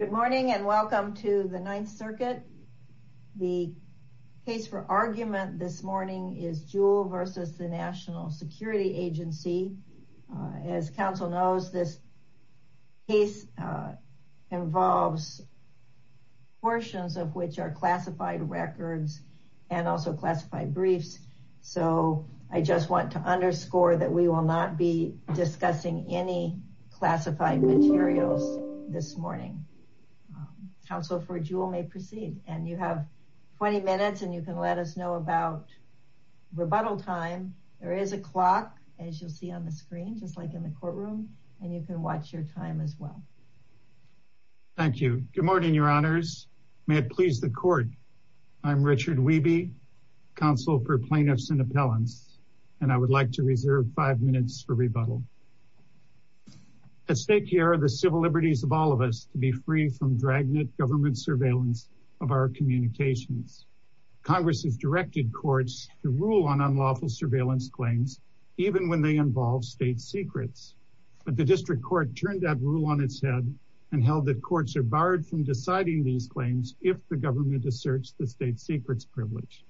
Good morning and welcome to the Ninth Circuit. The case for argument this morning is Jewel versus the National Security Agency. As council knows, this case involves portions of which are classified records and also classified briefs. So I just want to underscore that we will not be discussing any classified materials this morning. Council for Jewel may proceed. And you have 20 minutes, and you can let us know about rebuttal time. There is a clock, as you'll see on the screen, just like in the courtroom. And you can watch your time as well. Thank you. Good morning, your honors. May it please the court. I'm Richard Wiebe, counsel for plaintiffs and appellants. And I would like to reserve five minutes for rebuttal. At stake here are the civil liberties of all of us to be free from dragnet government surveillance of our communications. Congress has directed courts to rule on unlawful surveillance claims, even when they involve state secrets. But the district court turned that rule on its head and held that courts are barred from deciding these claims if the government asserts the state secrets privilege.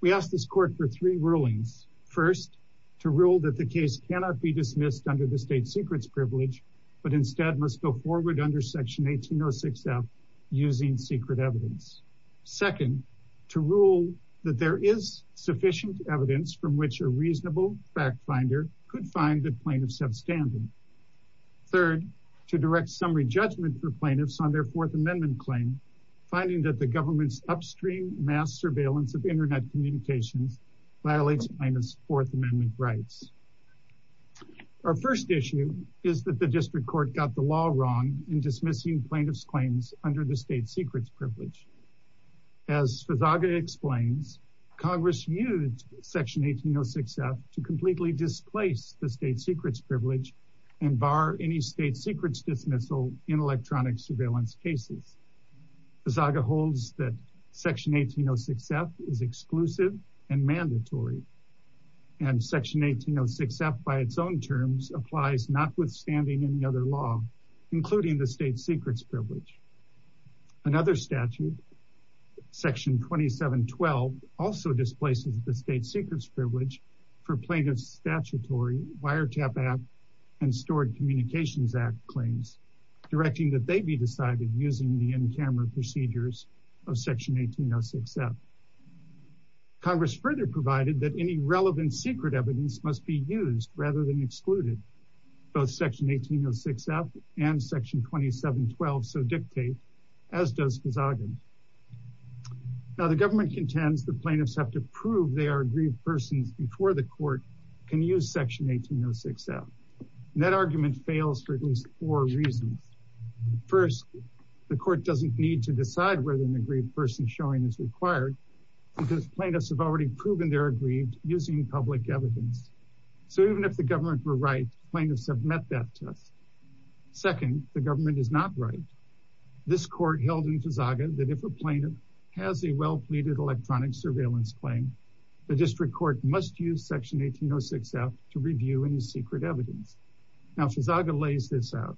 We ask this court for three rulings. First, to rule that the case cannot be dismissed under the state secrets privilege, but instead must go forward under section 1806F using secret evidence. Second, to rule that there is sufficient evidence from which a reasonable fact finder could find the plaintiff substantive. Third, to direct summary judgment for plaintiffs on their Fourth Amendment claim, finding that the government's upstream mass surveillance of internet communications violates plaintiff's Fourth Amendment rights. Our first issue is that the district court got the law wrong in dismissing plaintiff's claims under the state secrets privilege. As Fezaga explains, Congress used section 1806F to completely displace the state secrets privilege and bar any state secrets dismissal in electronic surveillance cases. Fezaga holds that section 1806F is exclusive and mandatory. And section 1806F, by its own terms, applies notwithstanding any other law, including the state secrets privilege. Another statute, section 2712, also displaces the state secrets privilege for plaintiff's statutory wiretap act and stored communications act claims, directing that they be decided using the in-camera procedures of section 1806F. Congress further provided that any relevant secret evidence must be used rather than excluded. Both section 1806F and section 2712 so dictate, as does Fezaga. Now, the government contends the plaintiffs have to prove they are aggrieved persons before the court can use section 1806F. And that argument fails for at least four reasons. First, the court doesn't need to decide whether an aggrieved person showing is required because plaintiffs have already proven they're aggrieved using public evidence. So even if the government were right, plaintiffs have met that test. Second, the government is not right. This court held in Fezaga that if a plaintiff has a well-pleaded electronic surveillance claim, the district court must use section 1806F to review any secret evidence. Now, Fezaga lays this out.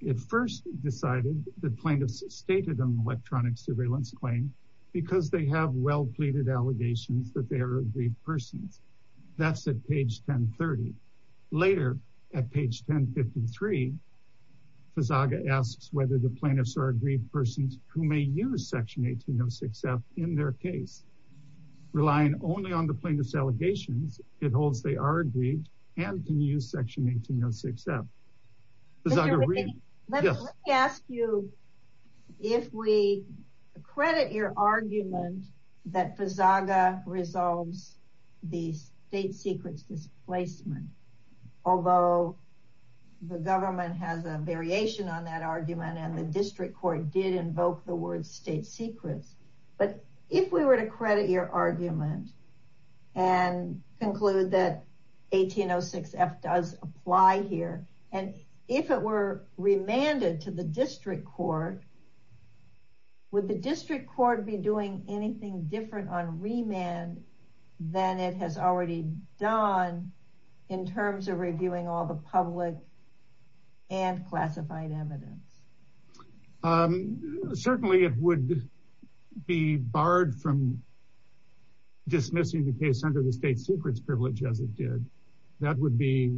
It first decided the plaintiffs stated an electronic surveillance claim because they have well-pleaded allegations that they are aggrieved persons. That's at page 1030. Later at page 1053, Fezaga asks whether the plaintiffs are aggrieved persons who may use section 1806F in their case. Relying only on the plaintiff's allegations, it holds they are aggrieved and can use section 1806F. Fezaga, read. Yes. Let me ask you if we credit your argument that Fezaga resolves the state secrets displacement, although the government has a variation on that argument and the district court did invoke the word state secrets. But if we were to credit your argument and conclude that 1806F does apply here, and if it were remanded to the district court, would the district court be doing anything different on remand than it has already done in terms of reviewing all the public and classified evidence? Certainly it would be barred from dismissing the case under the state secrets privilege as it did. That would be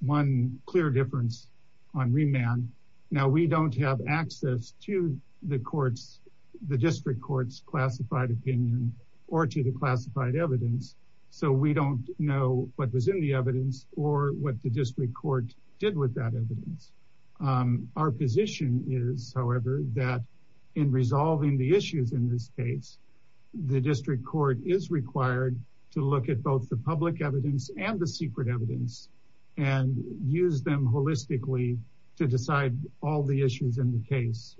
one clear difference on remand. Now, we don't have access to the courts, the district court's classified opinion or to the classified evidence. So we don't know what was in the evidence or what the district court did with that evidence. Our position is, however, that in resolving the issues in this case, the district court is required to look at both the public evidence and the secret evidence and use them holistically to decide all the issues in the case,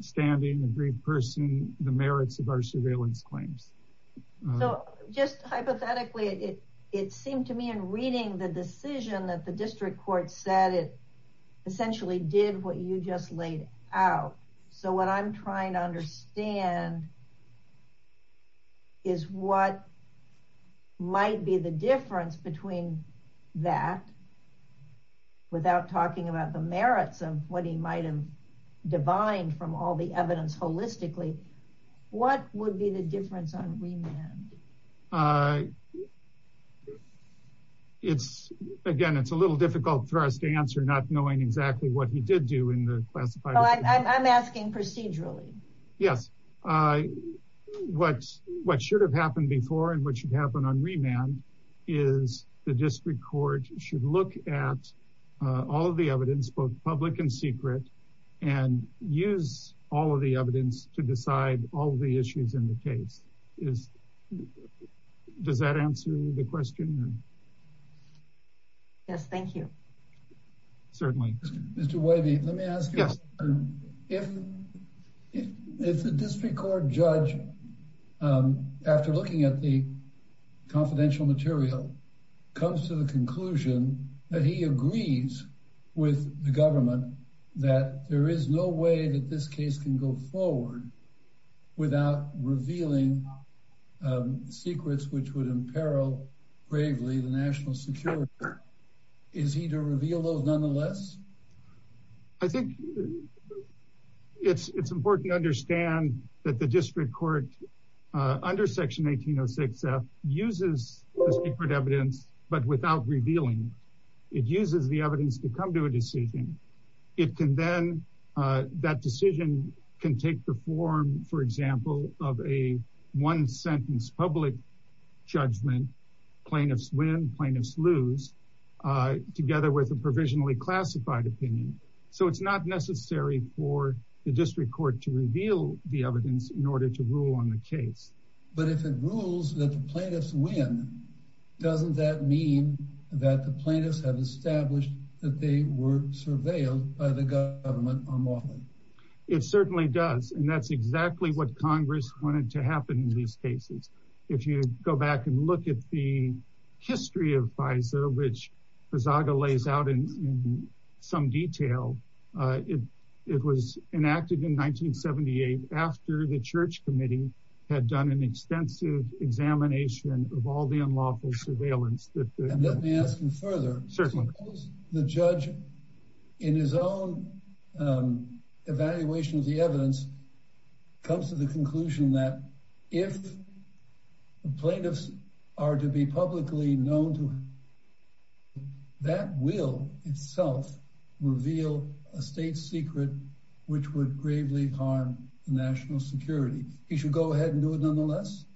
standing, the brief person, the merits of our surveillance claims. So just hypothetically, it seemed to me in reading the decision that the district court said, it essentially did what you just laid out. So what I'm trying to understand is what might be the difference between that without talking about the merits of what he might've divined from all the evidence holistically, what would be the difference on remand? I, it's, again, it's a little difficult for us to answer not knowing exactly what he did do in the classified. I'm asking procedurally. Yes, what should have happened before and what should happen on remand is the district court should look at all of the evidence, both public and secret and use all of the evidence to decide all of the issues in the case. Is, does that answer the question? Yes, thank you. Certainly. Mr. Wavy, let me ask you a question. If the district court judge, after looking at the confidential material, comes to the conclusion that he agrees with the government that there is no way that this case can go forward without revealing secrets, which would imperil bravely the national security, is he to reveal those nonetheless? I think it's important to understand that the district court under section 1806F uses the secret evidence, but without revealing. It uses the evidence to come to a decision. It can then, that decision can take the form, for example, of a one sentence public judgment, plaintiffs win, plaintiffs lose, together with a provisionally classified opinion. So it's not necessary for the district court to reveal the evidence in order to rule on the case. But if it rules that the plaintiffs win, doesn't that mean that the plaintiffs have established that they were surveilled by the government unlawfully? It certainly does. And that's exactly what Congress wanted to happen in these cases. If you go back and look at the history of FISA, which Buzaga lays out in some detail, it was enacted in 1978 after the church committee had done an extensive examination of all the unlawful surveillance that- I'm asking further. Certainly. The judge in his own evaluation of the evidence comes to the conclusion that if the plaintiffs are to be publicly known to, that will itself reveal a state secret, which would gravely harm the national security. He should go ahead and do it nonetheless?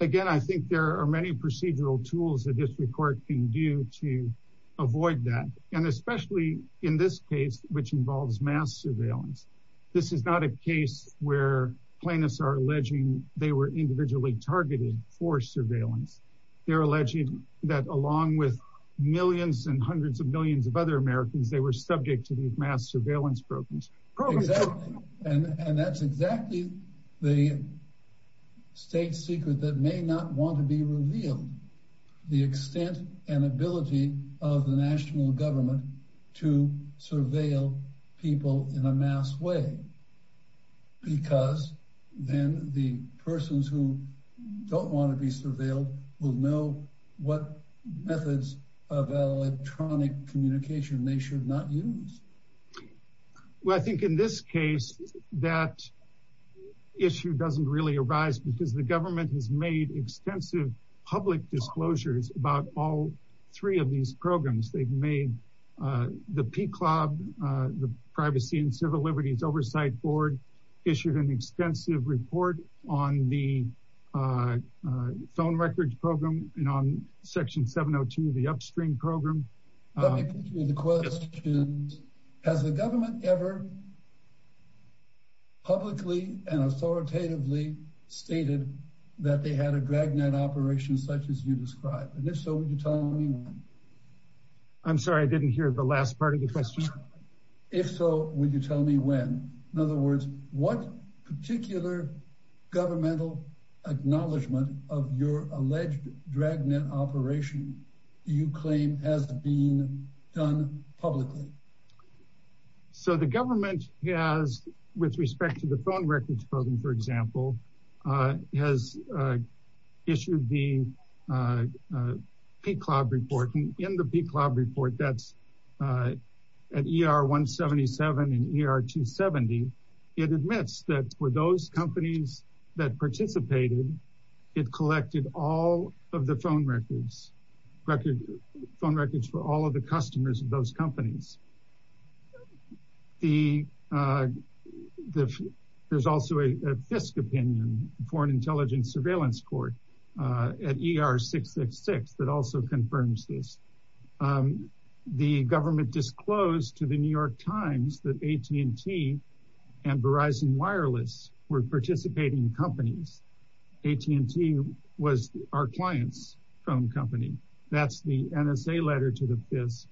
Again, I think there are many procedural tools that district court can do to avoid that. And especially in this case, which involves mass surveillance. This is not a case where plaintiffs are alleging they were individually targeted for surveillance. They're alleging that along with millions and hundreds of millions of other Americans, Exactly. And that's exactly the case. And that's a state secret that may not want to be revealed. The extent and ability of the national government to surveil people in a mass way, because then the persons who don't want to be surveilled will know what methods of electronic communication they should not use. Well, I think in this case, that issue doesn't really arise because the government has made extensive public disclosures about all three of these programs. They've made the PCLOB, the Privacy and Civil Liberties Oversight Board, issued an extensive report on the phone records program and on section 702 of the upstream program. Let me put you in the question, has the government ever publicly and authoritatively stated that they had a dragnet operation such as you described? And if so, would you tell me when? I'm sorry, I didn't hear the last part of the question. If so, would you tell me when? In other words, what particular governmental acknowledgement of your alleged dragnet operation do you claim has been done publicly? So the government has, with respect to the phone records program, for example, has issued the PCLOB report. And in the PCLOB report, that's at ER-177 and ER-270, it admits that for those companies that participated, it collected all of the phone records, phone records for all of the customers of those companies. There's also a FISC opinion, Foreign Intelligence Surveillance Court, at ER-666, that also confirms this. The government disclosed to the New York Times that AT&T and Verizon Wireless were participating companies. AT&T was our client's phone company. That's the NSA letter to the FISC.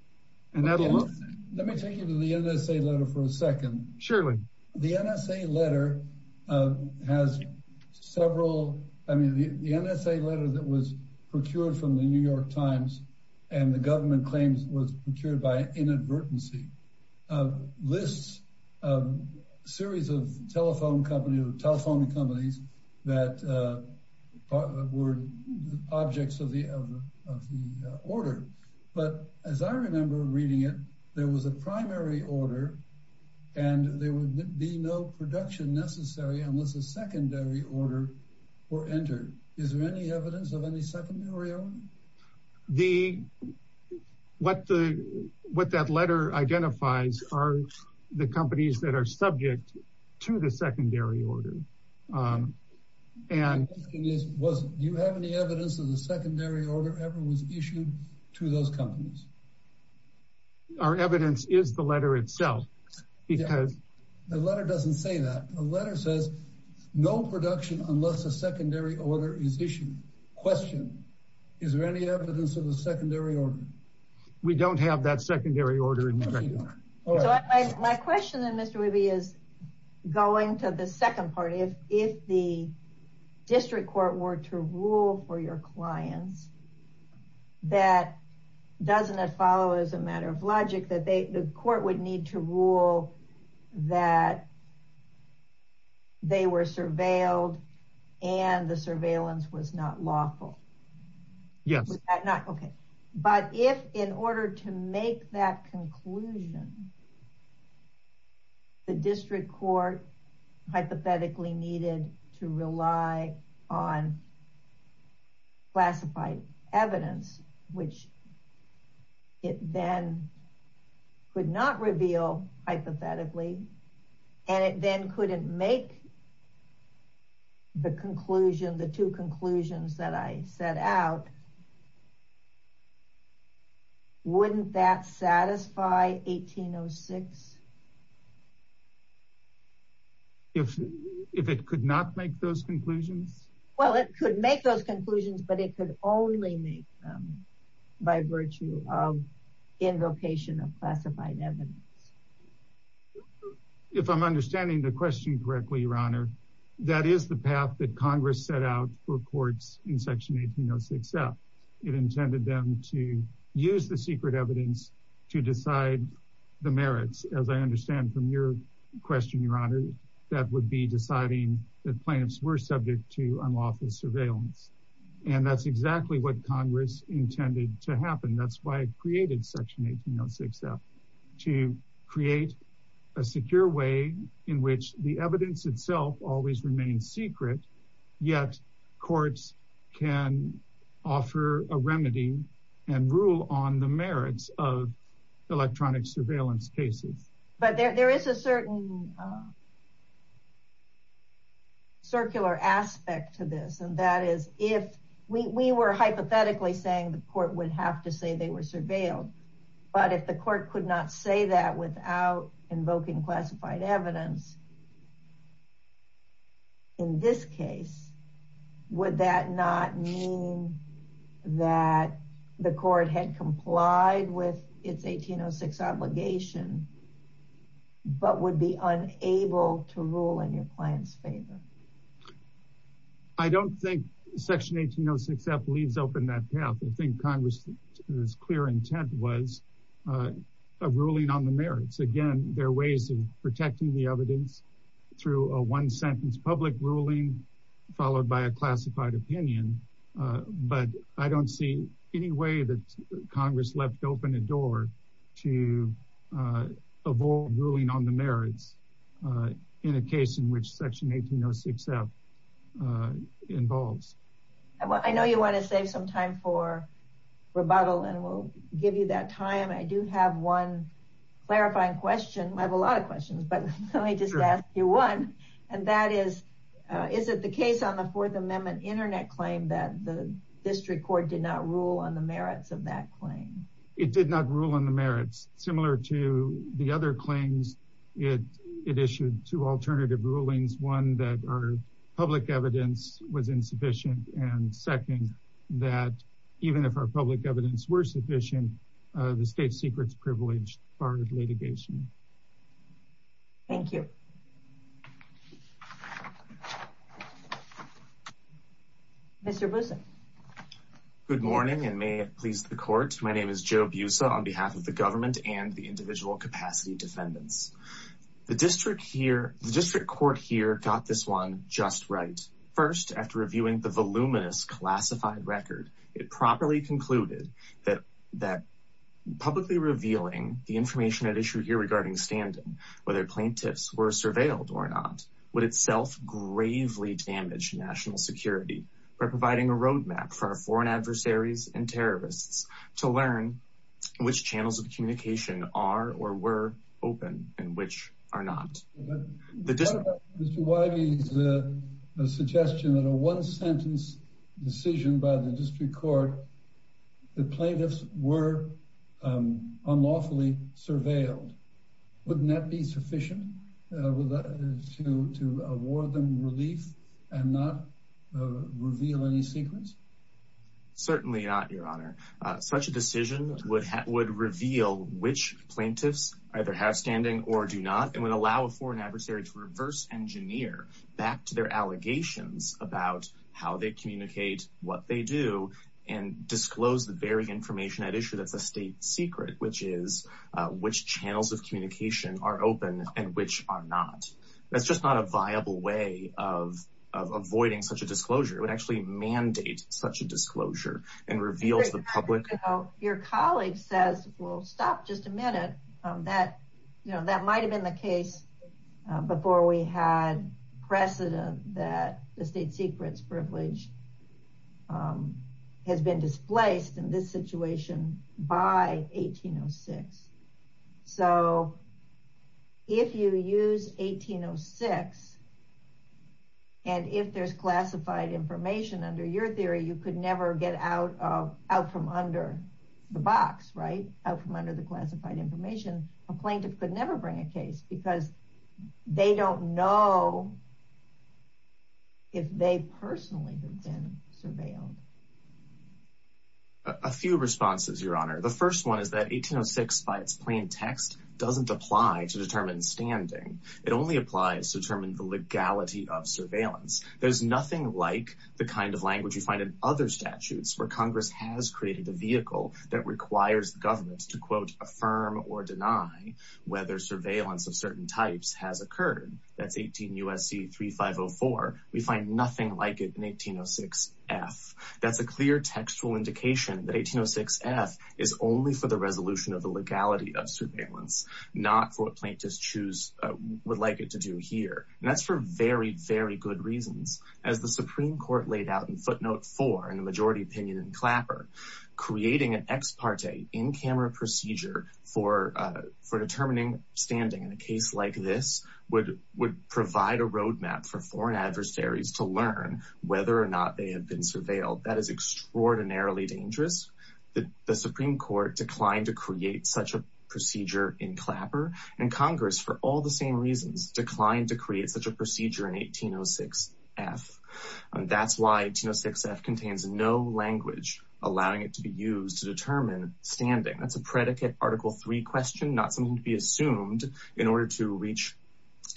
And that'll- Let me take you to the NSA letter for a second. Surely. The NSA letter has several, I mean, the NSA letter that was procured from the New York Times, and the government claims was procured by inadvertency, lists a series of telephone companies that were objects of the order. But as I remember reading it, there was a primary order, and there would be no production necessary unless a secondary order were entered. Is there any evidence of any secondary order? The, what that letter identifies are the companies that are subject to the secondary order. And- My question is, do you have any evidence of the secondary order ever was issued to those companies? Our evidence is the letter itself, because- The letter doesn't say that. The letter says, no production unless a secondary order is issued. Question, is there any evidence of a secondary order? We don't have that secondary order in the record. My question then, Mr. Ruby, is going to the second part. If the district court were to rule for your clients, that doesn't it follow as a matter of logic that the court would need to rule that they were surveilled and the surveillance was not lawful? Yes. Okay. But if in order to make that conclusion, the district court hypothetically needed to rely on classified evidence, which it then could not reveal hypothetically, and it then couldn't make the conclusion, the two conclusions that I set out, wouldn't that satisfy 1806? If it could not make those conclusions? Well, it could make those conclusions, but it could only make them by virtue of invocation of classified evidence. If I'm understanding the question correctly, Your Honor, that is the path that Congress set out for courts in section 1806F. It intended them to use the secret evidence to decide the merits. As I understand from your question, Your Honor, that would be deciding that plans were subject to unlawful surveillance. And that's exactly what Congress intended to happen. That's why it created section 1806F, to create a secure way in which the evidence itself always remains secret, yet courts can offer a remedy and rule on the merits of electronic surveillance cases. But there is a certain circular aspect to this. And that is if we were hypothetically saying the court would have to say they were surveilled, but if the court could not say that without invoking classified evidence, in this case, would that not mean that the court had complied with its 1806 obligation, but would be unable to rule in your client's favor? I don't think section 1806F leaves open that path. I think Congress's clear intent was a ruling on the merits. Again, there are ways of protecting the evidence through a one sentence public ruling, followed by a classified opinion, but I don't see any way that Congress left open a door to avoid ruling on the merits in a case in which section 1806F involves. I know you wanna save some time for rebuttal and we'll give you that time. I do have one clarifying question. I have a lot of questions, but let me just ask you one. And that is, is it the case on the Fourth Amendment internet claim that the district court did not rule on the merits of that claim? It did not rule on the merits. Similar to the other claims, it issued two alternative rulings. One, that our public evidence was insufficient. And second, that even if our public evidence were sufficient, the state secrets privilege barred litigation. Thank you. Mr. Boussa. Good morning and may it please the court. My name is Joe Boussa on behalf of the government and the individual capacity defendants. The district court here got this one just right. First, after reviewing the voluminous classified record, it properly concluded that publicly revealing the information at issue here regarding stand-in, whether plaintiffs were surveilled or not, would itself gravely damage national security. We're providing a roadmap for our foreign adversaries and terrorists to learn which channels of communication are or were open and which are not. The district- Mr. Wybie's suggestion that a one sentence decision by the district court, the plaintiffs were unlawfully surveilled. Wouldn't that be sufficient to award them relief and not reveal any secrets? Certainly not, your honor. Such a decision would reveal which plaintiffs either have standing or do not, and would allow a foreign adversary to reverse engineer back to their allegations about how they communicate, what they do, and disclose the very information at issue that's a state secret, which is which channels of communication are open and which are not. That's just not a viable way of avoiding such a disclosure. It would actually mandate such a disclosure and reveals the public- Your colleague says, well, stop just a minute. That might've been the case before we had precedent that the state secret's privilege has been displaced in this situation by 1806. So if you use 1806, and if there's classified information under your theory, you could never get out from under the box, right? Out from under the classified information. A plaintiff could never bring a case because they don't know if they personally have been surveilled. A few responses, Your Honor. The first one is that 1806, by its plain text, doesn't apply to determine standing. It only applies to determine the legality of surveillance. There's nothing like the kind of language you find in other statutes where Congress has created the vehicle that requires the government to, quote, affirm or deny whether surveillance of certain types has occurred. That's 18 U.S.C. 3504. We find nothing like it in 1806 F. That's a clear textual indication that 1806 F is only for the resolution of the legality of surveillance, not for what plaintiffs choose, would like it to do here. And that's for very, very good reasons. As the Supreme Court laid out in footnote four in the majority opinion in Clapper, creating an ex parte in-camera procedure for determining standing in a case like this would provide a roadmap for foreign adversaries to learn whether or not they have been surveilled. That is extraordinarily dangerous. The Supreme Court declined to create such a procedure in Clapper, and Congress, for all the same reasons, declined to create such a procedure in 1806 F. And that's why 1806 F contains no language allowing it to be used to determine standing. That's a predicate Article III question, not something to be assumed in order to reach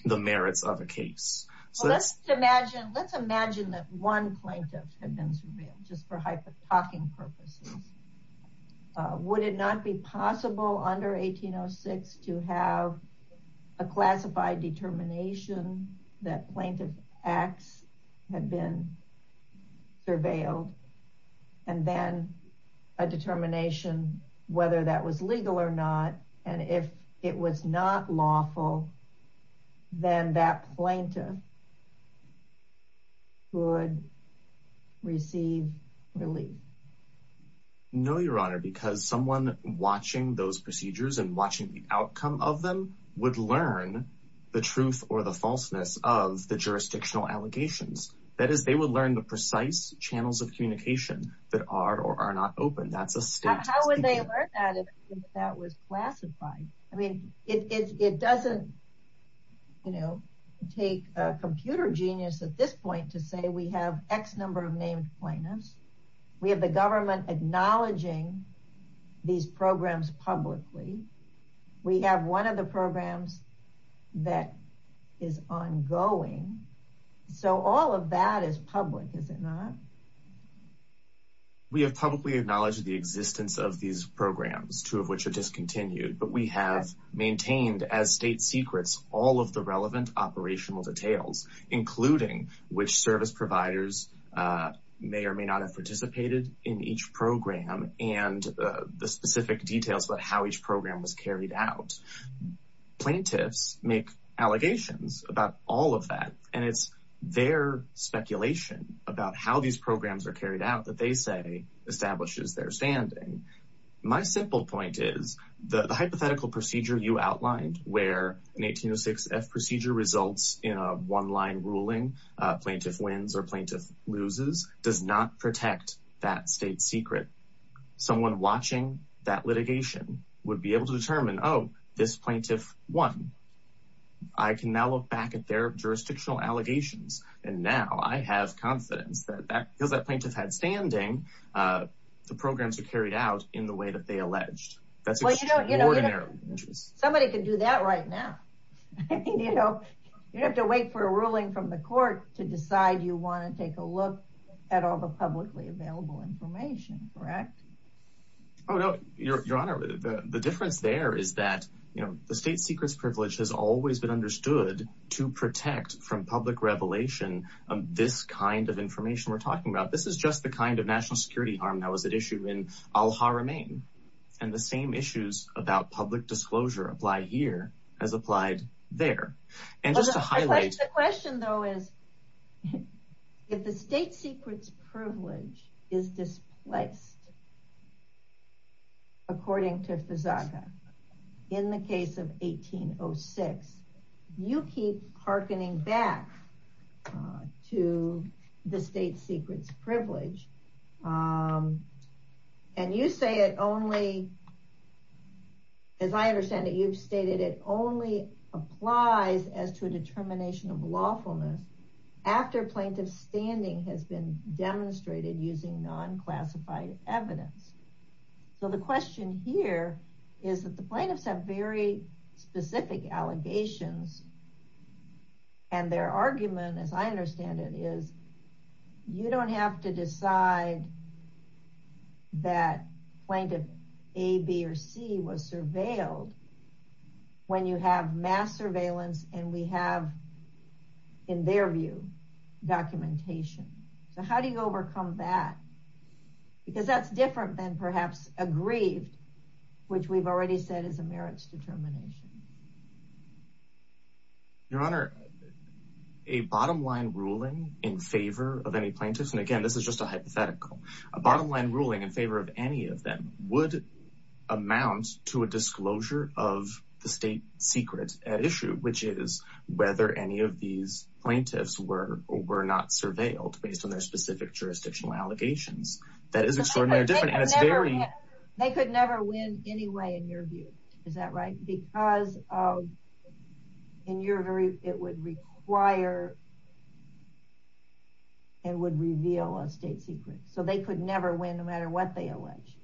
the merits of a case. So let's imagine that one plaintiff had been surveilled, just for hyper-talking purposes. Would it not be possible under 1806 to have a classified determination that plaintiff X had been surveilled, and then a determination whether that was legal or not, and if it was not lawful, then that plaintiff would receive relief? No, Your Honor, because someone watching those procedures and watching the outcome of them would learn the truth or the falseness of the jurisdictional allegations. That is, they would learn the precise channels of communication that are or are not open. That's a state test. How would they learn that if that was classified? I mean, it doesn't, you know, take a computer genius at this point to say we have X number of named plaintiffs. We have the government acknowledging these programs publicly. We have one of the programs that is ongoing. So all of that is public, is it not? We have publicly acknowledged the existence of these programs, two of which are discontinued, but we have maintained as state secrets all of the relevant operational details, including which service providers may or may not have participated in each program and the specific details about how each program was carried out. Plaintiffs make allegations about all of that, and it's their speculation about how these programs are carried out that they say establishes their standing. My simple point is the hypothetical procedure you outlined where an 1806 F procedure results in a one-line ruling, plaintiff wins or plaintiff loses, does not protect that state secret. Someone watching that litigation would be able to determine, oh, this plaintiff won. I can now look back at their jurisdictional allegations, and now I have confidence that because that plaintiff had standing, the programs are carried out in the way that they alleged. That's extraordinarily interesting. Somebody could do that right now. You don't have to wait for a ruling from the court to decide you wanna take a look at all the publicly available information, correct? Oh, no, Your Honor, the difference there is that the state secrets privilege has always been understood to protect from public revelation of this kind of information we're talking about. This is just the kind of national security harm that was at issue in Al-Haramain, and the same issues about public disclosure apply here as applied there. And just to highlight- The question, though, is if the state secrets privilege is displaced according to Fezaga in the case of 1806, you keep hearkening back to the state secrets privilege, and you say it only, as I understand it, you've stated it only applies as to a determination of lawfulness after plaintiff's standing has been demonstrated using non-classified evidence. So the question here is that the plaintiffs have very specific allegations, and their argument, as I understand it, is you don't have to decide that plaintiff A, B, or C was surveilled when you have mass surveillance and we have, in their view, documentation. So how do you overcome that? Because that's different than perhaps aggrieved, which we've already said is a merits determination. Your Honor, a bottom-line ruling in favor of any plaintiffs, and again, this is just a hypothetical, a bottom-line ruling in favor of any of them would amount to a disclosure of the state secrets at issue, which is whether any of these plaintiffs were not surveilled based on their specific jurisdictional allegations. That is extraordinarily different, and it's very- They could never win anyway, in your view. Is that right? Because in your very, it would require and would reveal a state secret. So they could never win, no matter what they allege.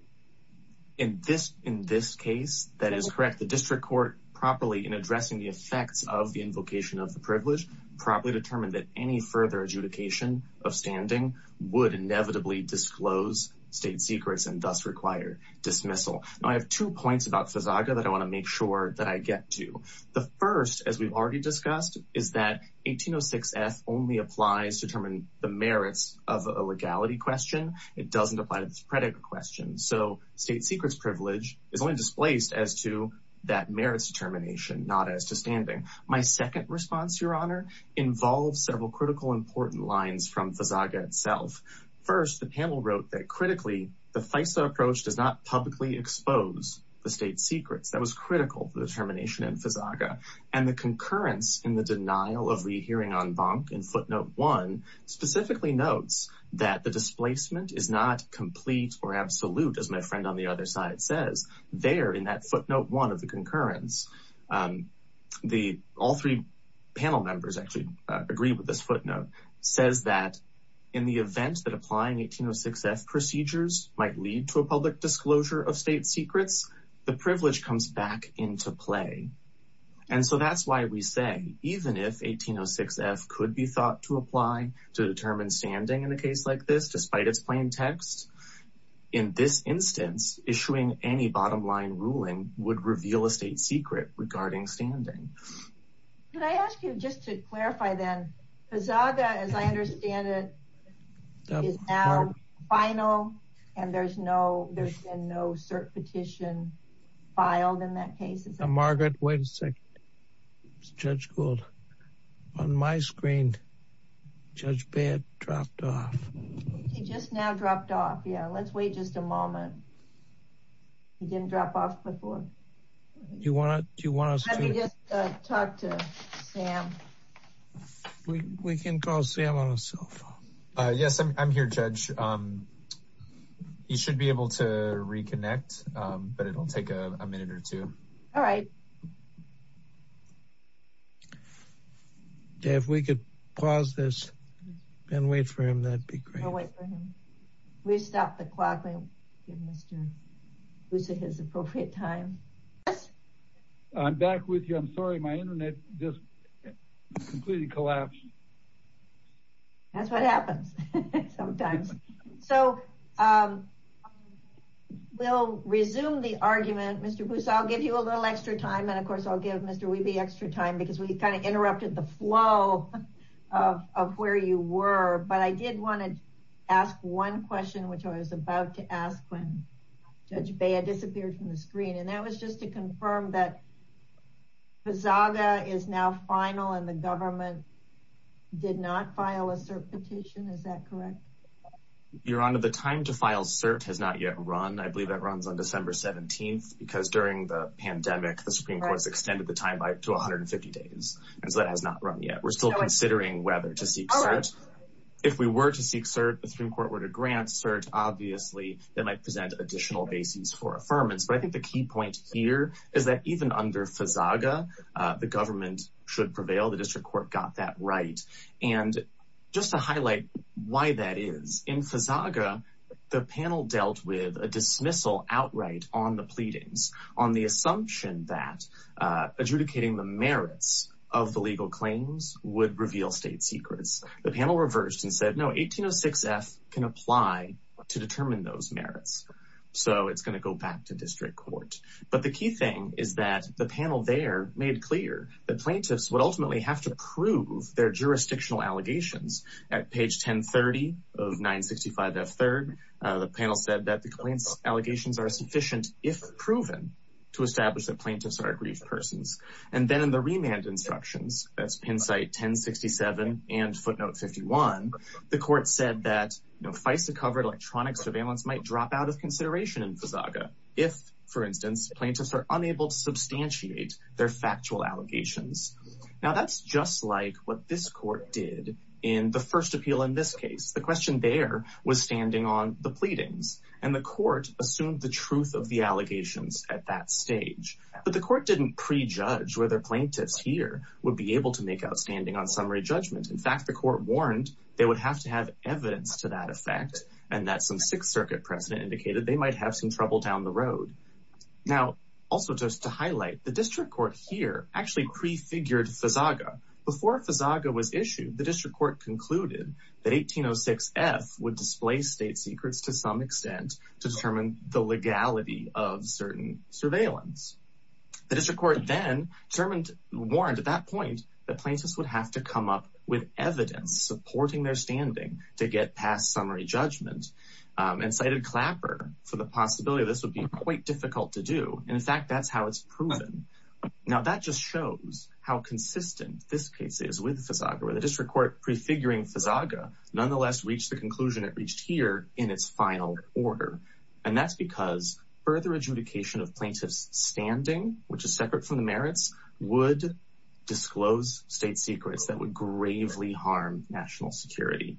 In this case, that is correct. The district court, properly in addressing the effects of the invocation of the privilege, properly determined that any further adjudication of standing would inevitably disclose state secrets and thus require dismissal. Now, I have two points about FISAGA that I wanna make sure that I get to. The first, as we've already discussed, is that 1806F only applies to determine the merits of a legality question. It doesn't apply to this predicate question. So state secrets privilege is only displaced as to that merits determination, not as to standing. My second response, your Honor, involves several critical, important lines from FISAGA itself. First, the panel wrote that, critically, the FISA approach does not publicly expose the state secrets. That was critical to the determination in FISAGA. And the concurrence in the denial of rehearing en banc in footnote one specifically notes that the displacement is not complete or absolute, as my friend on the other side says. There, in that footnote one of the concurrence, all three panel members actually agree with this footnote, says that in the event that applying 1806F procedures might lead to a public disclosure of state secrets, the privilege comes back into play. And so that's why we say, even if 1806F could be thought to apply to determine standing in a case like this, despite its plain text, in this instance, issuing any bottom line ruling would reveal a state secret regarding standing. Could I ask you, just to clarify then, FISAGA, as I understand it, is now final and there's been no cert petition filed in that case? Margaret, wait a second, Judge Gould. On my screen, Judge Baird dropped off. He just now dropped off, yeah. Let's wait just a moment. He didn't drop off before. Do you want us to- Let me just talk to Sam. We can call Sam on his cell phone. Yes, I'm here, Judge. He should be able to reconnect, but it'll take a minute or two. All right. Dave, if we could pause this and wait for him, that'd be great. We'll wait for him. We'll stop the clock and give Mr. Luce his appropriate time. Yes? I'm back with you. I'm sorry, my internet just completely collapsed. That's what happens sometimes. So we'll resume the argument. Mr. Luce, I'll give you a little extra time. And of course, I'll give Mr. Wiebe extra time because we kind of interrupted the flow of where you were. But I did want to ask one question, which I was about to ask when Judge Baird disappeared from the screen. And that was just to confirm that PSAGA is now final and the government did not file a CERT petition, is that correct? Your Honor, the time to file CERT has not yet run. I believe that runs on December 17th because during the pandemic, the Supreme Court's extended the time to 150 days. And so that has not run yet. We're still considering whether to seek CERT. If we were to seek CERT, the Supreme Court were to grant CERT, obviously that might present additional bases for affirmance. But I think the key point here is that even under PSAGA, the government should prevail. The district court got that right. And just to highlight why that is, in PSAGA, the panel dealt with a dismissal outright on the pleadings, on the assumption that adjudicating the merits of the legal claims would reveal state secrets. The panel reversed and said, no, 1806F can apply to determine those merits. So it's going to go back to district court. But the key thing is that the panel there made clear that plaintiffs would ultimately have to prove their jurisdictional allegations. At page 1030 of 965F3rd, the panel said that the claims allegations are sufficient, if proven, to establish that plaintiffs are aggrieved persons. And then in the remand instructions, that's Penn site 1067 and footnote 51, the court said that FISA covered electronic surveillance might drop out of consideration in PSAGA, if, for instance, plaintiffs are unable to substantiate their factual allegations. Now that's just like what this court did in the first appeal in this case. The question there was standing on the pleadings and the court assumed the truth of the allegations at that stage. But the court didn't prejudge whether plaintiffs here would be able to make outstanding on summary judgment. In fact, the court warned they would have to have evidence to that effect, and that some Sixth Circuit precedent indicated they might have some trouble down the road. Now, also just to highlight, the district court here actually prefigured FISAGA. Before FISAGA was issued, the district court concluded that 1806F would display state secrets to some extent to determine the legality of certain surveillance. The district court then warned at that point that plaintiffs would have to come up with evidence supporting their standing to get past summary judgment and cited Clapper for the possibility this would be quite difficult to do. And in fact, that's how it's proven. Now, that just shows how consistent this case is with FISAGA, where the district court prefiguring FISAGA nonetheless reached the conclusion it reached here in its final order. And that's because further adjudication of plaintiff's standing, which is separate from the merits, would disclose state secrets that would gravely harm national security.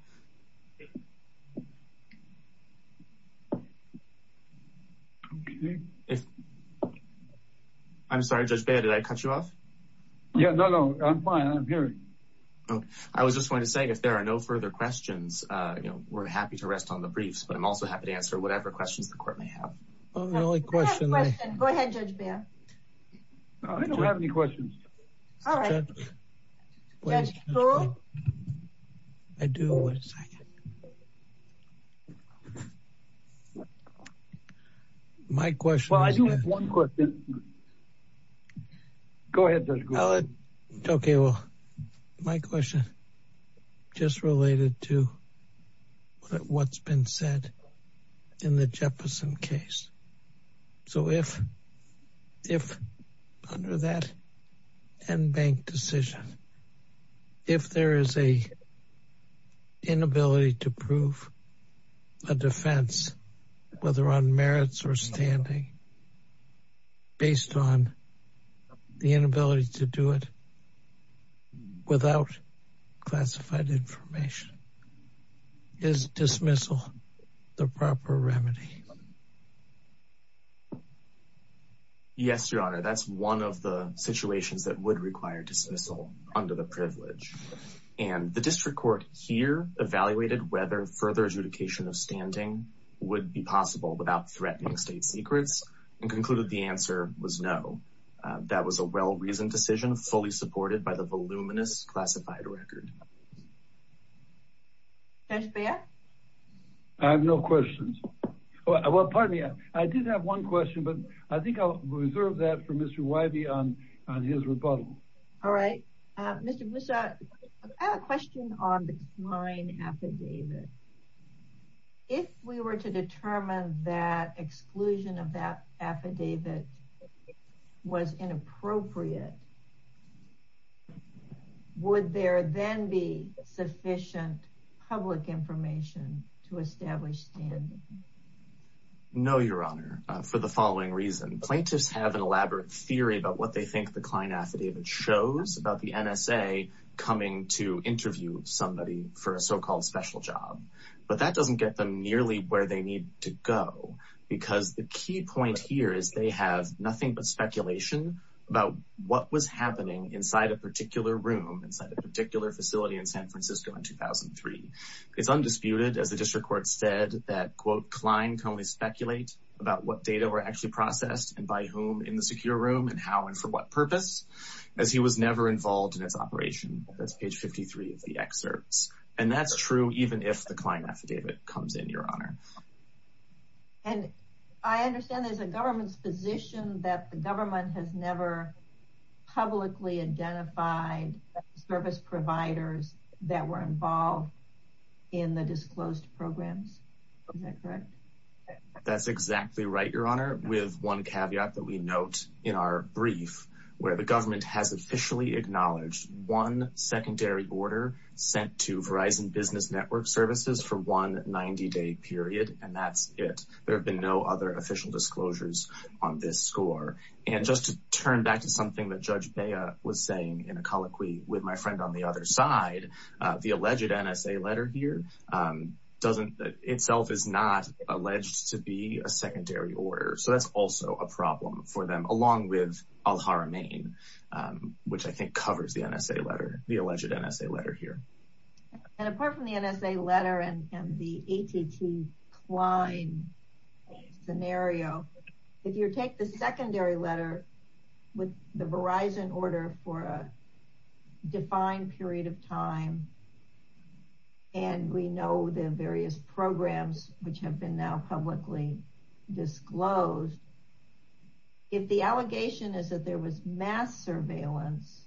I'm sorry, Judge Beyer, did I cut you off? Yeah, no, no, I'm fine, I'm hearing you. I was just going to say, if there are no further questions, we're happy to rest on the briefs, but I'm also happy to answer whatever questions the court may have. The only question- We have a question. Go ahead, Judge Beyer. No, I don't have any questions. All right. Judge Kuhl? I do, one second. My question- Well, I do have one question. Go ahead, Judge Kuhl. Okay, well, my question just related to what's been said in the Jefferson case. So if under that en banc decision, if there is a inability to prove a defense, whether on merits or standing, based on the inability to do it without classified information, is dismissal the proper remedy? Yes, Your Honor, that's one of the situations that would require dismissal under the privilege. And the district court here evaluated whether further adjudication of standing would be possible without threatening state secrets and concluded the answer was no. That was a well-reasoned decision, fully supported by the voluminous classified record. Judge Beyer? I have no questions. Well, pardon me, I did have one question, but I think I'll reserve that for Mr. Wybie on his rebuttal. All right, Mr. Boussa, I have a question on the Klein affidavit. If we were to determine that exclusion of that affidavit was inappropriate, would there then be sufficient public information to establish standing? No, Your Honor, for the following reason. Plaintiffs have an elaborate theory about what they think the Klein affidavit shows about the NSA coming to interview somebody for a so-called special job. But that doesn't get them nearly where they need to go because the key point here is they have nothing but speculation about what was happening inside a particular room, inside a particular facility in San Francisco in 2003. It's undisputed, as the district court said, that, quote, Klein can only speculate about what data were actually processed and by whom in the secure room and how and for what purpose, as he was never involved in its operation. That's page 53 of the excerpts. And that's true even if the Klein affidavit comes in, Your Honor. And I understand there's a government's position that the government has never publicly identified service providers that were involved in the disclosed programs, is that correct? That's exactly right, Your Honor, with one caveat that we note in our brief where the government has officially acknowledged one secondary order sent to Verizon Business Network services for one 90-day period, and that's it. There have been no other official disclosures on this score. And just to turn back to something that Judge Bea was saying in a colloquy with my friend on the other side, the alleged NSA letter here doesn't, that itself is not alleged to be a secondary order. So that's also a problem for them along with Al-Haramain, which I think covers the NSA letter, the alleged NSA letter here. And apart from the NSA letter and the AT&T-Klein scenario, if you take the secondary letter with the Verizon order for a defined period of time, and we know the various programs which have been now publicly disclosed, if the allegation is that there was mass surveillance,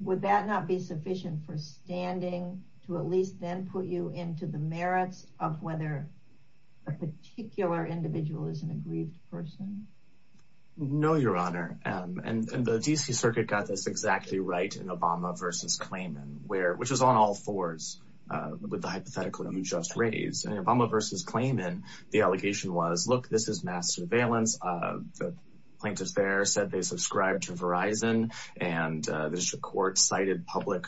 would that not be sufficient for standing to at least then put you into the merits of whether a particular individual is an aggrieved person? No, Your Honor, and the D.C. Circuit got this exactly right in Obama v. Klayman, which was on all fours with the hypothetical you just raised. And in Obama v. Klayman, the allegation was, look, this is mass surveillance. The plaintiffs there said they subscribe to Verizon, and the District Court cited public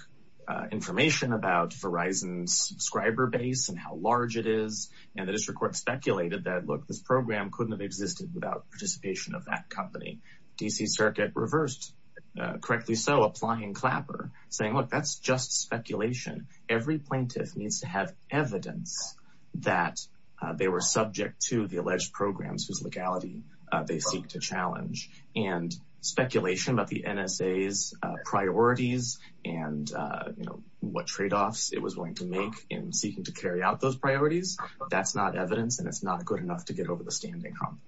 information about Verizon's subscriber base and how large it is. And the District Court speculated that, look, this program couldn't have existed without participation of that company. D.C. Circuit reversed, correctly so, applying Clapper, saying, look, that's just speculation. Every plaintiff needs to have evidence that they were subject to the alleged programs whose legality they seek to challenge. And speculation about the NSA's priorities and what trade-offs it was willing to make in seeking to carry out those priorities, that's not evidence, and it's not good enough to get over the standing hump.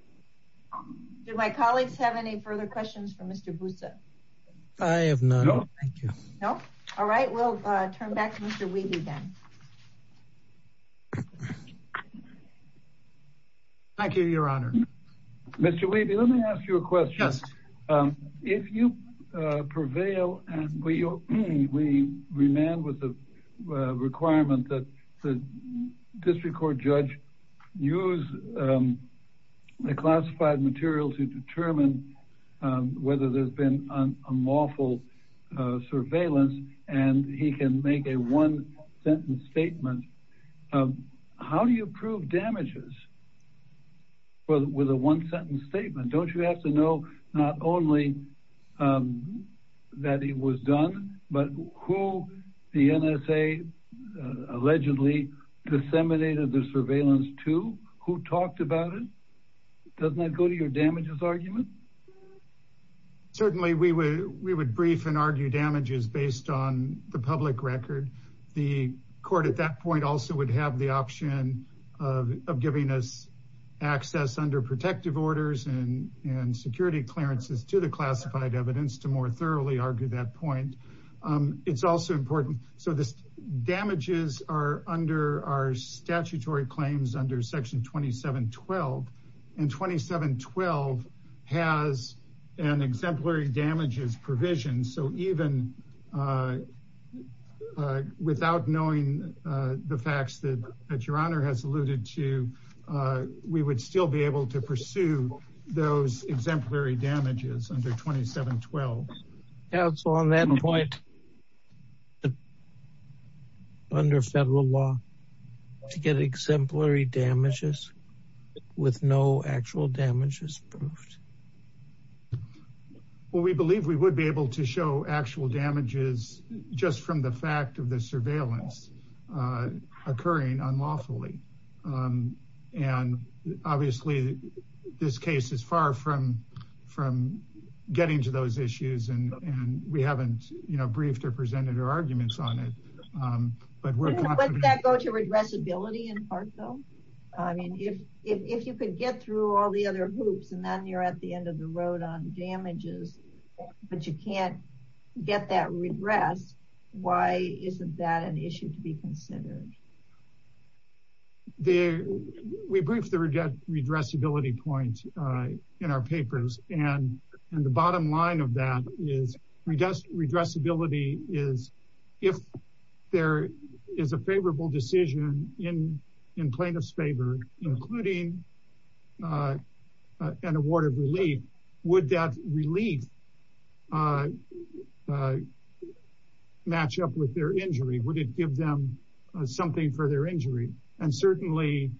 Do my colleagues have any further questions for Mr. Busse? I have none, thank you. No? All right, we'll turn back to Mr. Weeby then. Thank you, Your Honor. Mr. Weeby, let me ask you a question. Yes. If you prevail and we remain with the requirement that the District Court judge use the classified material to determine whether there's been unlawful surveillance, and he can make a one-sentence statement, how do you prove damages with a one-sentence statement? Don't you have to know not only that it was done, but who the NSA allegedly disseminated the surveillance to? Who talked about it? Doesn't that go to your damages argument? Certainly, we would brief and argue damages based on the public record. The court at that point also would have the option of giving us access under protective orders and security clearances to the classified evidence to more thoroughly argue that point. It's also important. So the damages are under our statutory claims under section 2712, and 2712 has an exemplary damages provision. So even without knowing the facts that Your Honor has alluded to, we would still be able to pursue those exemplary damages under 2712. Yeah, so on that point, under federal law, to get exemplary damages with no actual damages proved? Well, we believe we would be able to show actual damages just from the fact of the surveillance occurring unlawfully. And obviously, this case is far from getting to those issues, and we haven't briefed or presented our arguments on it, but we're- Wouldn't that go to redressability in part, though? I mean, if you could get through all the other hoops and then you're at the end of the road on damages, but you can't get that redress, why isn't that an issue to be considered? We briefed the redressability point in our papers, and the bottom line of that is redressability is if there is a favorable decision in plaintiff's favor, including an award of relief, would that relief match up with their injury? Would it give them something for their injury? And certainly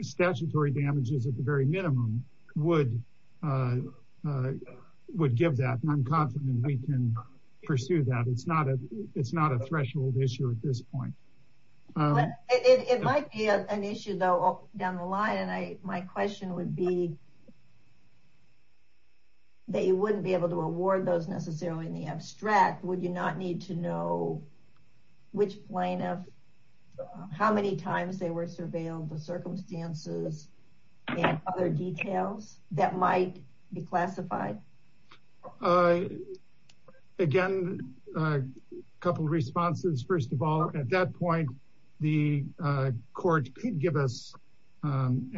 statutory damages at the very minimum would give that, and I'm confident we can pursue that. It's not a threshold issue at this point. It might be an issue, though, down the line, and my question would be that you wouldn't be able to award those necessarily in the abstract. Would you not need to know which plaintiff, how many times they were surveilled, the circumstances, and other details that might be classified? Again, a couple of responses. First of all, at that point, the court could give us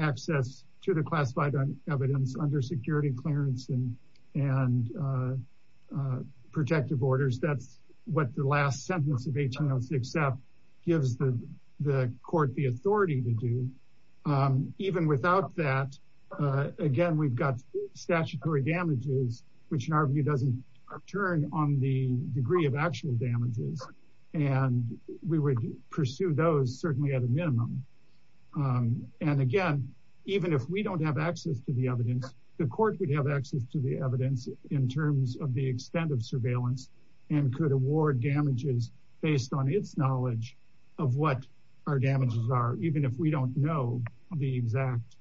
access to the classified evidence under security clearance and protective orders. That's what the last sentence of 1806F gives the court the authority to do. Even without that, again, we've got statutory damages, which in our view doesn't turn on the degree of actual damages, and we would pursue those certainly at a minimum. And again, even if we don't have access to the evidence, the court would have access to the evidence in terms of the extent of surveillance and could award damages based on its knowledge of what our damages are, even if we don't know the exact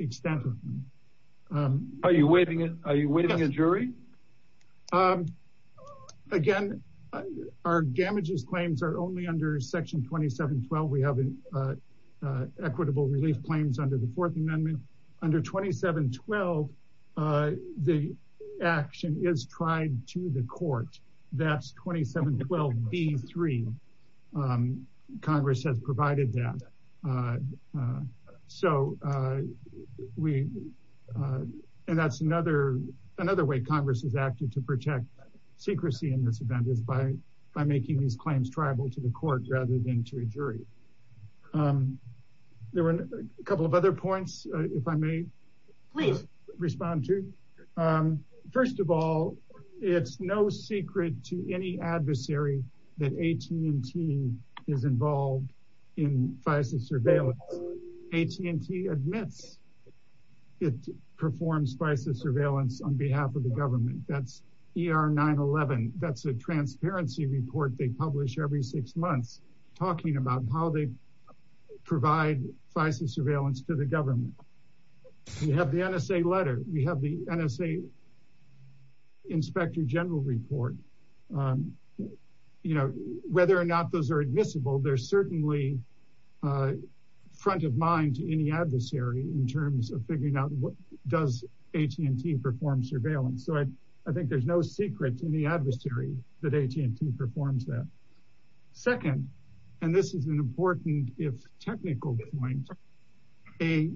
extent of them. Are you waiting a jury? Again, our damages claims are only under Section 2712. We have equitable relief claims under the Fourth Amendment. Under 2712, the action is tried to the court. That's 2712B3, Congress has provided that. And that's another way Congress has acted to protect secrecy in this event is by making these claims tribal to the court rather than to a jury. There were a couple of other points, if I may respond to. First of all, it's no secret to any adversary that AT&T is involved in FISA surveillance. AT&T admits it performs FISA surveillance on behalf of the government. That's ER 911. That's a transparency report they publish every six months talking about how they provide FISA surveillance to the government. We have the NSA letter. We have the NSA Inspector General report. Whether or not those are admissible, they're certainly front of mind to any adversary in terms of figuring out does AT&T perform surveillance? So I think there's no secret to any adversary that AT&T performs that. Second, and this is an important if technical point, a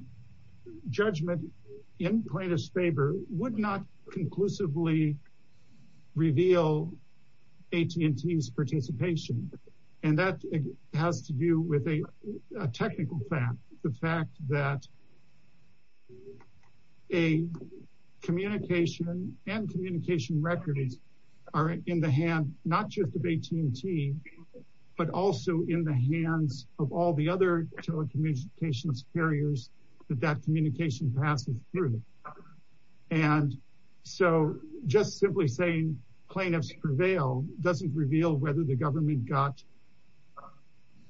judgment in plaintiff's favor would not conclusively reveal AT&T's participation. And that has to do with a technical fact, the fact that a communication and communication records are in the hand, not just of AT&T, but also in the hands of all the other telecommunications carriers that that communication passes through. And so just simply saying plaintiffs prevail doesn't reveal whether the government got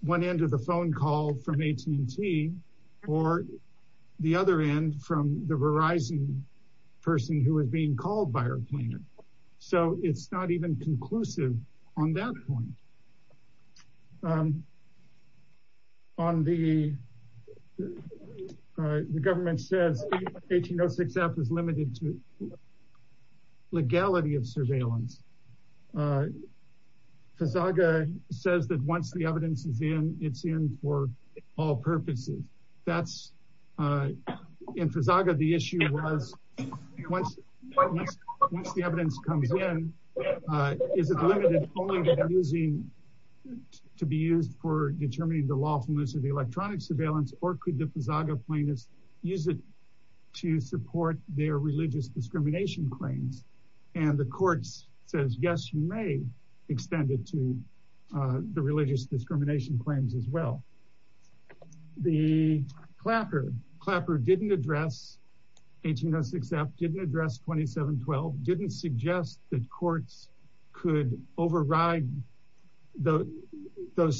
one end of the phone call from AT&T or the other end from the Verizon person who was being called by our plaintiff. So it's not even conclusive on that point. On the, the government says 1806 F is limited to legality of surveillance. Fazaga says that once the evidence is in, it's in for all purposes. That's in Fazaga, the issue was once the evidence comes in, is it limited only to be used for determining the lawfulness of the electronic surveillance or could the Fazaga plaintiffs use it to support their religious discrimination claims? And the courts says, yes, you may extend it to the religious discrimination claims as well. The Clapper, Clapper didn't address 1806 F, didn't address 2712, didn't suggest that courts could override those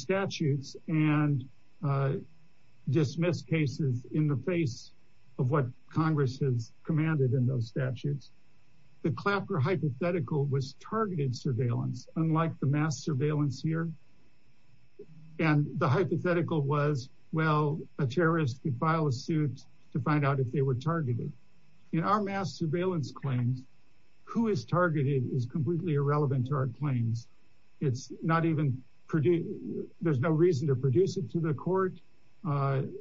statutes and dismiss cases in the face of what Congress has commanded in those statutes. The Clapper hypothetical was targeted surveillance, unlike the mass surveillance here. And the hypothetical was, well, a terrorist could file a suit to find out if they were targeted. In our mass surveillance claims, who is targeted is completely irrelevant to our claims. It's not even, there's no reason to produce it to the court.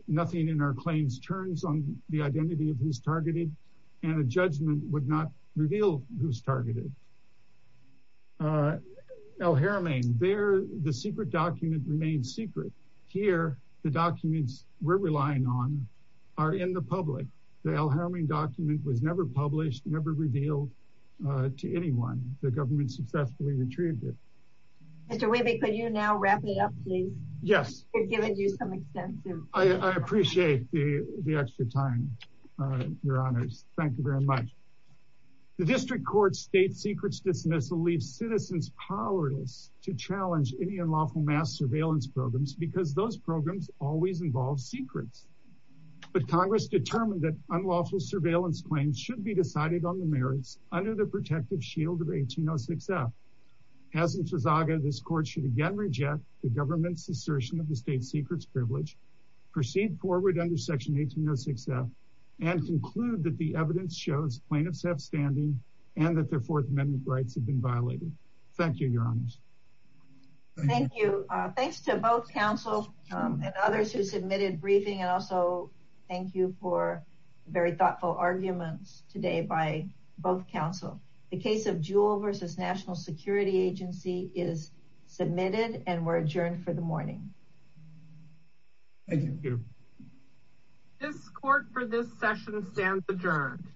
Nothing in our claims turns on the identity of who's targeted and a judgment would not reveal who's targeted. El Jaramain, the secret document remained secret. Here, the documents we're relying on are in the public. The El Jaramain document was never published, never revealed to anyone. The government successfully retrieved it. Mr. Wiebe, could you now wrap it up, please? Yes. We've given you some extensive- I appreciate the extra time, Your Honors. Thank you very much. The District Court's state secrets dismissal leaves citizens powerless to challenge any unlawful mass surveillance programs because those programs always involve secrets. But Congress determined that unlawful surveillance claims should be decided on the merits under the protective shield of 1806F. As in Fezaga, this court should again reject the government's assertion of the state secrets privilege, proceed forward under Section 1806F, and conclude that the evidence shows plaintiffs have standing and that their Fourth Amendment rights have been violated. Thank you, Your Honors. Thank you. Thanks to both counsel and others who submitted briefing, and also thank you for very thoughtful arguments today by both counsel. The case of Jewell versus National Security Agency is submitted and we're adjourned for the morning. Thank you. This court for this session stands adjourned.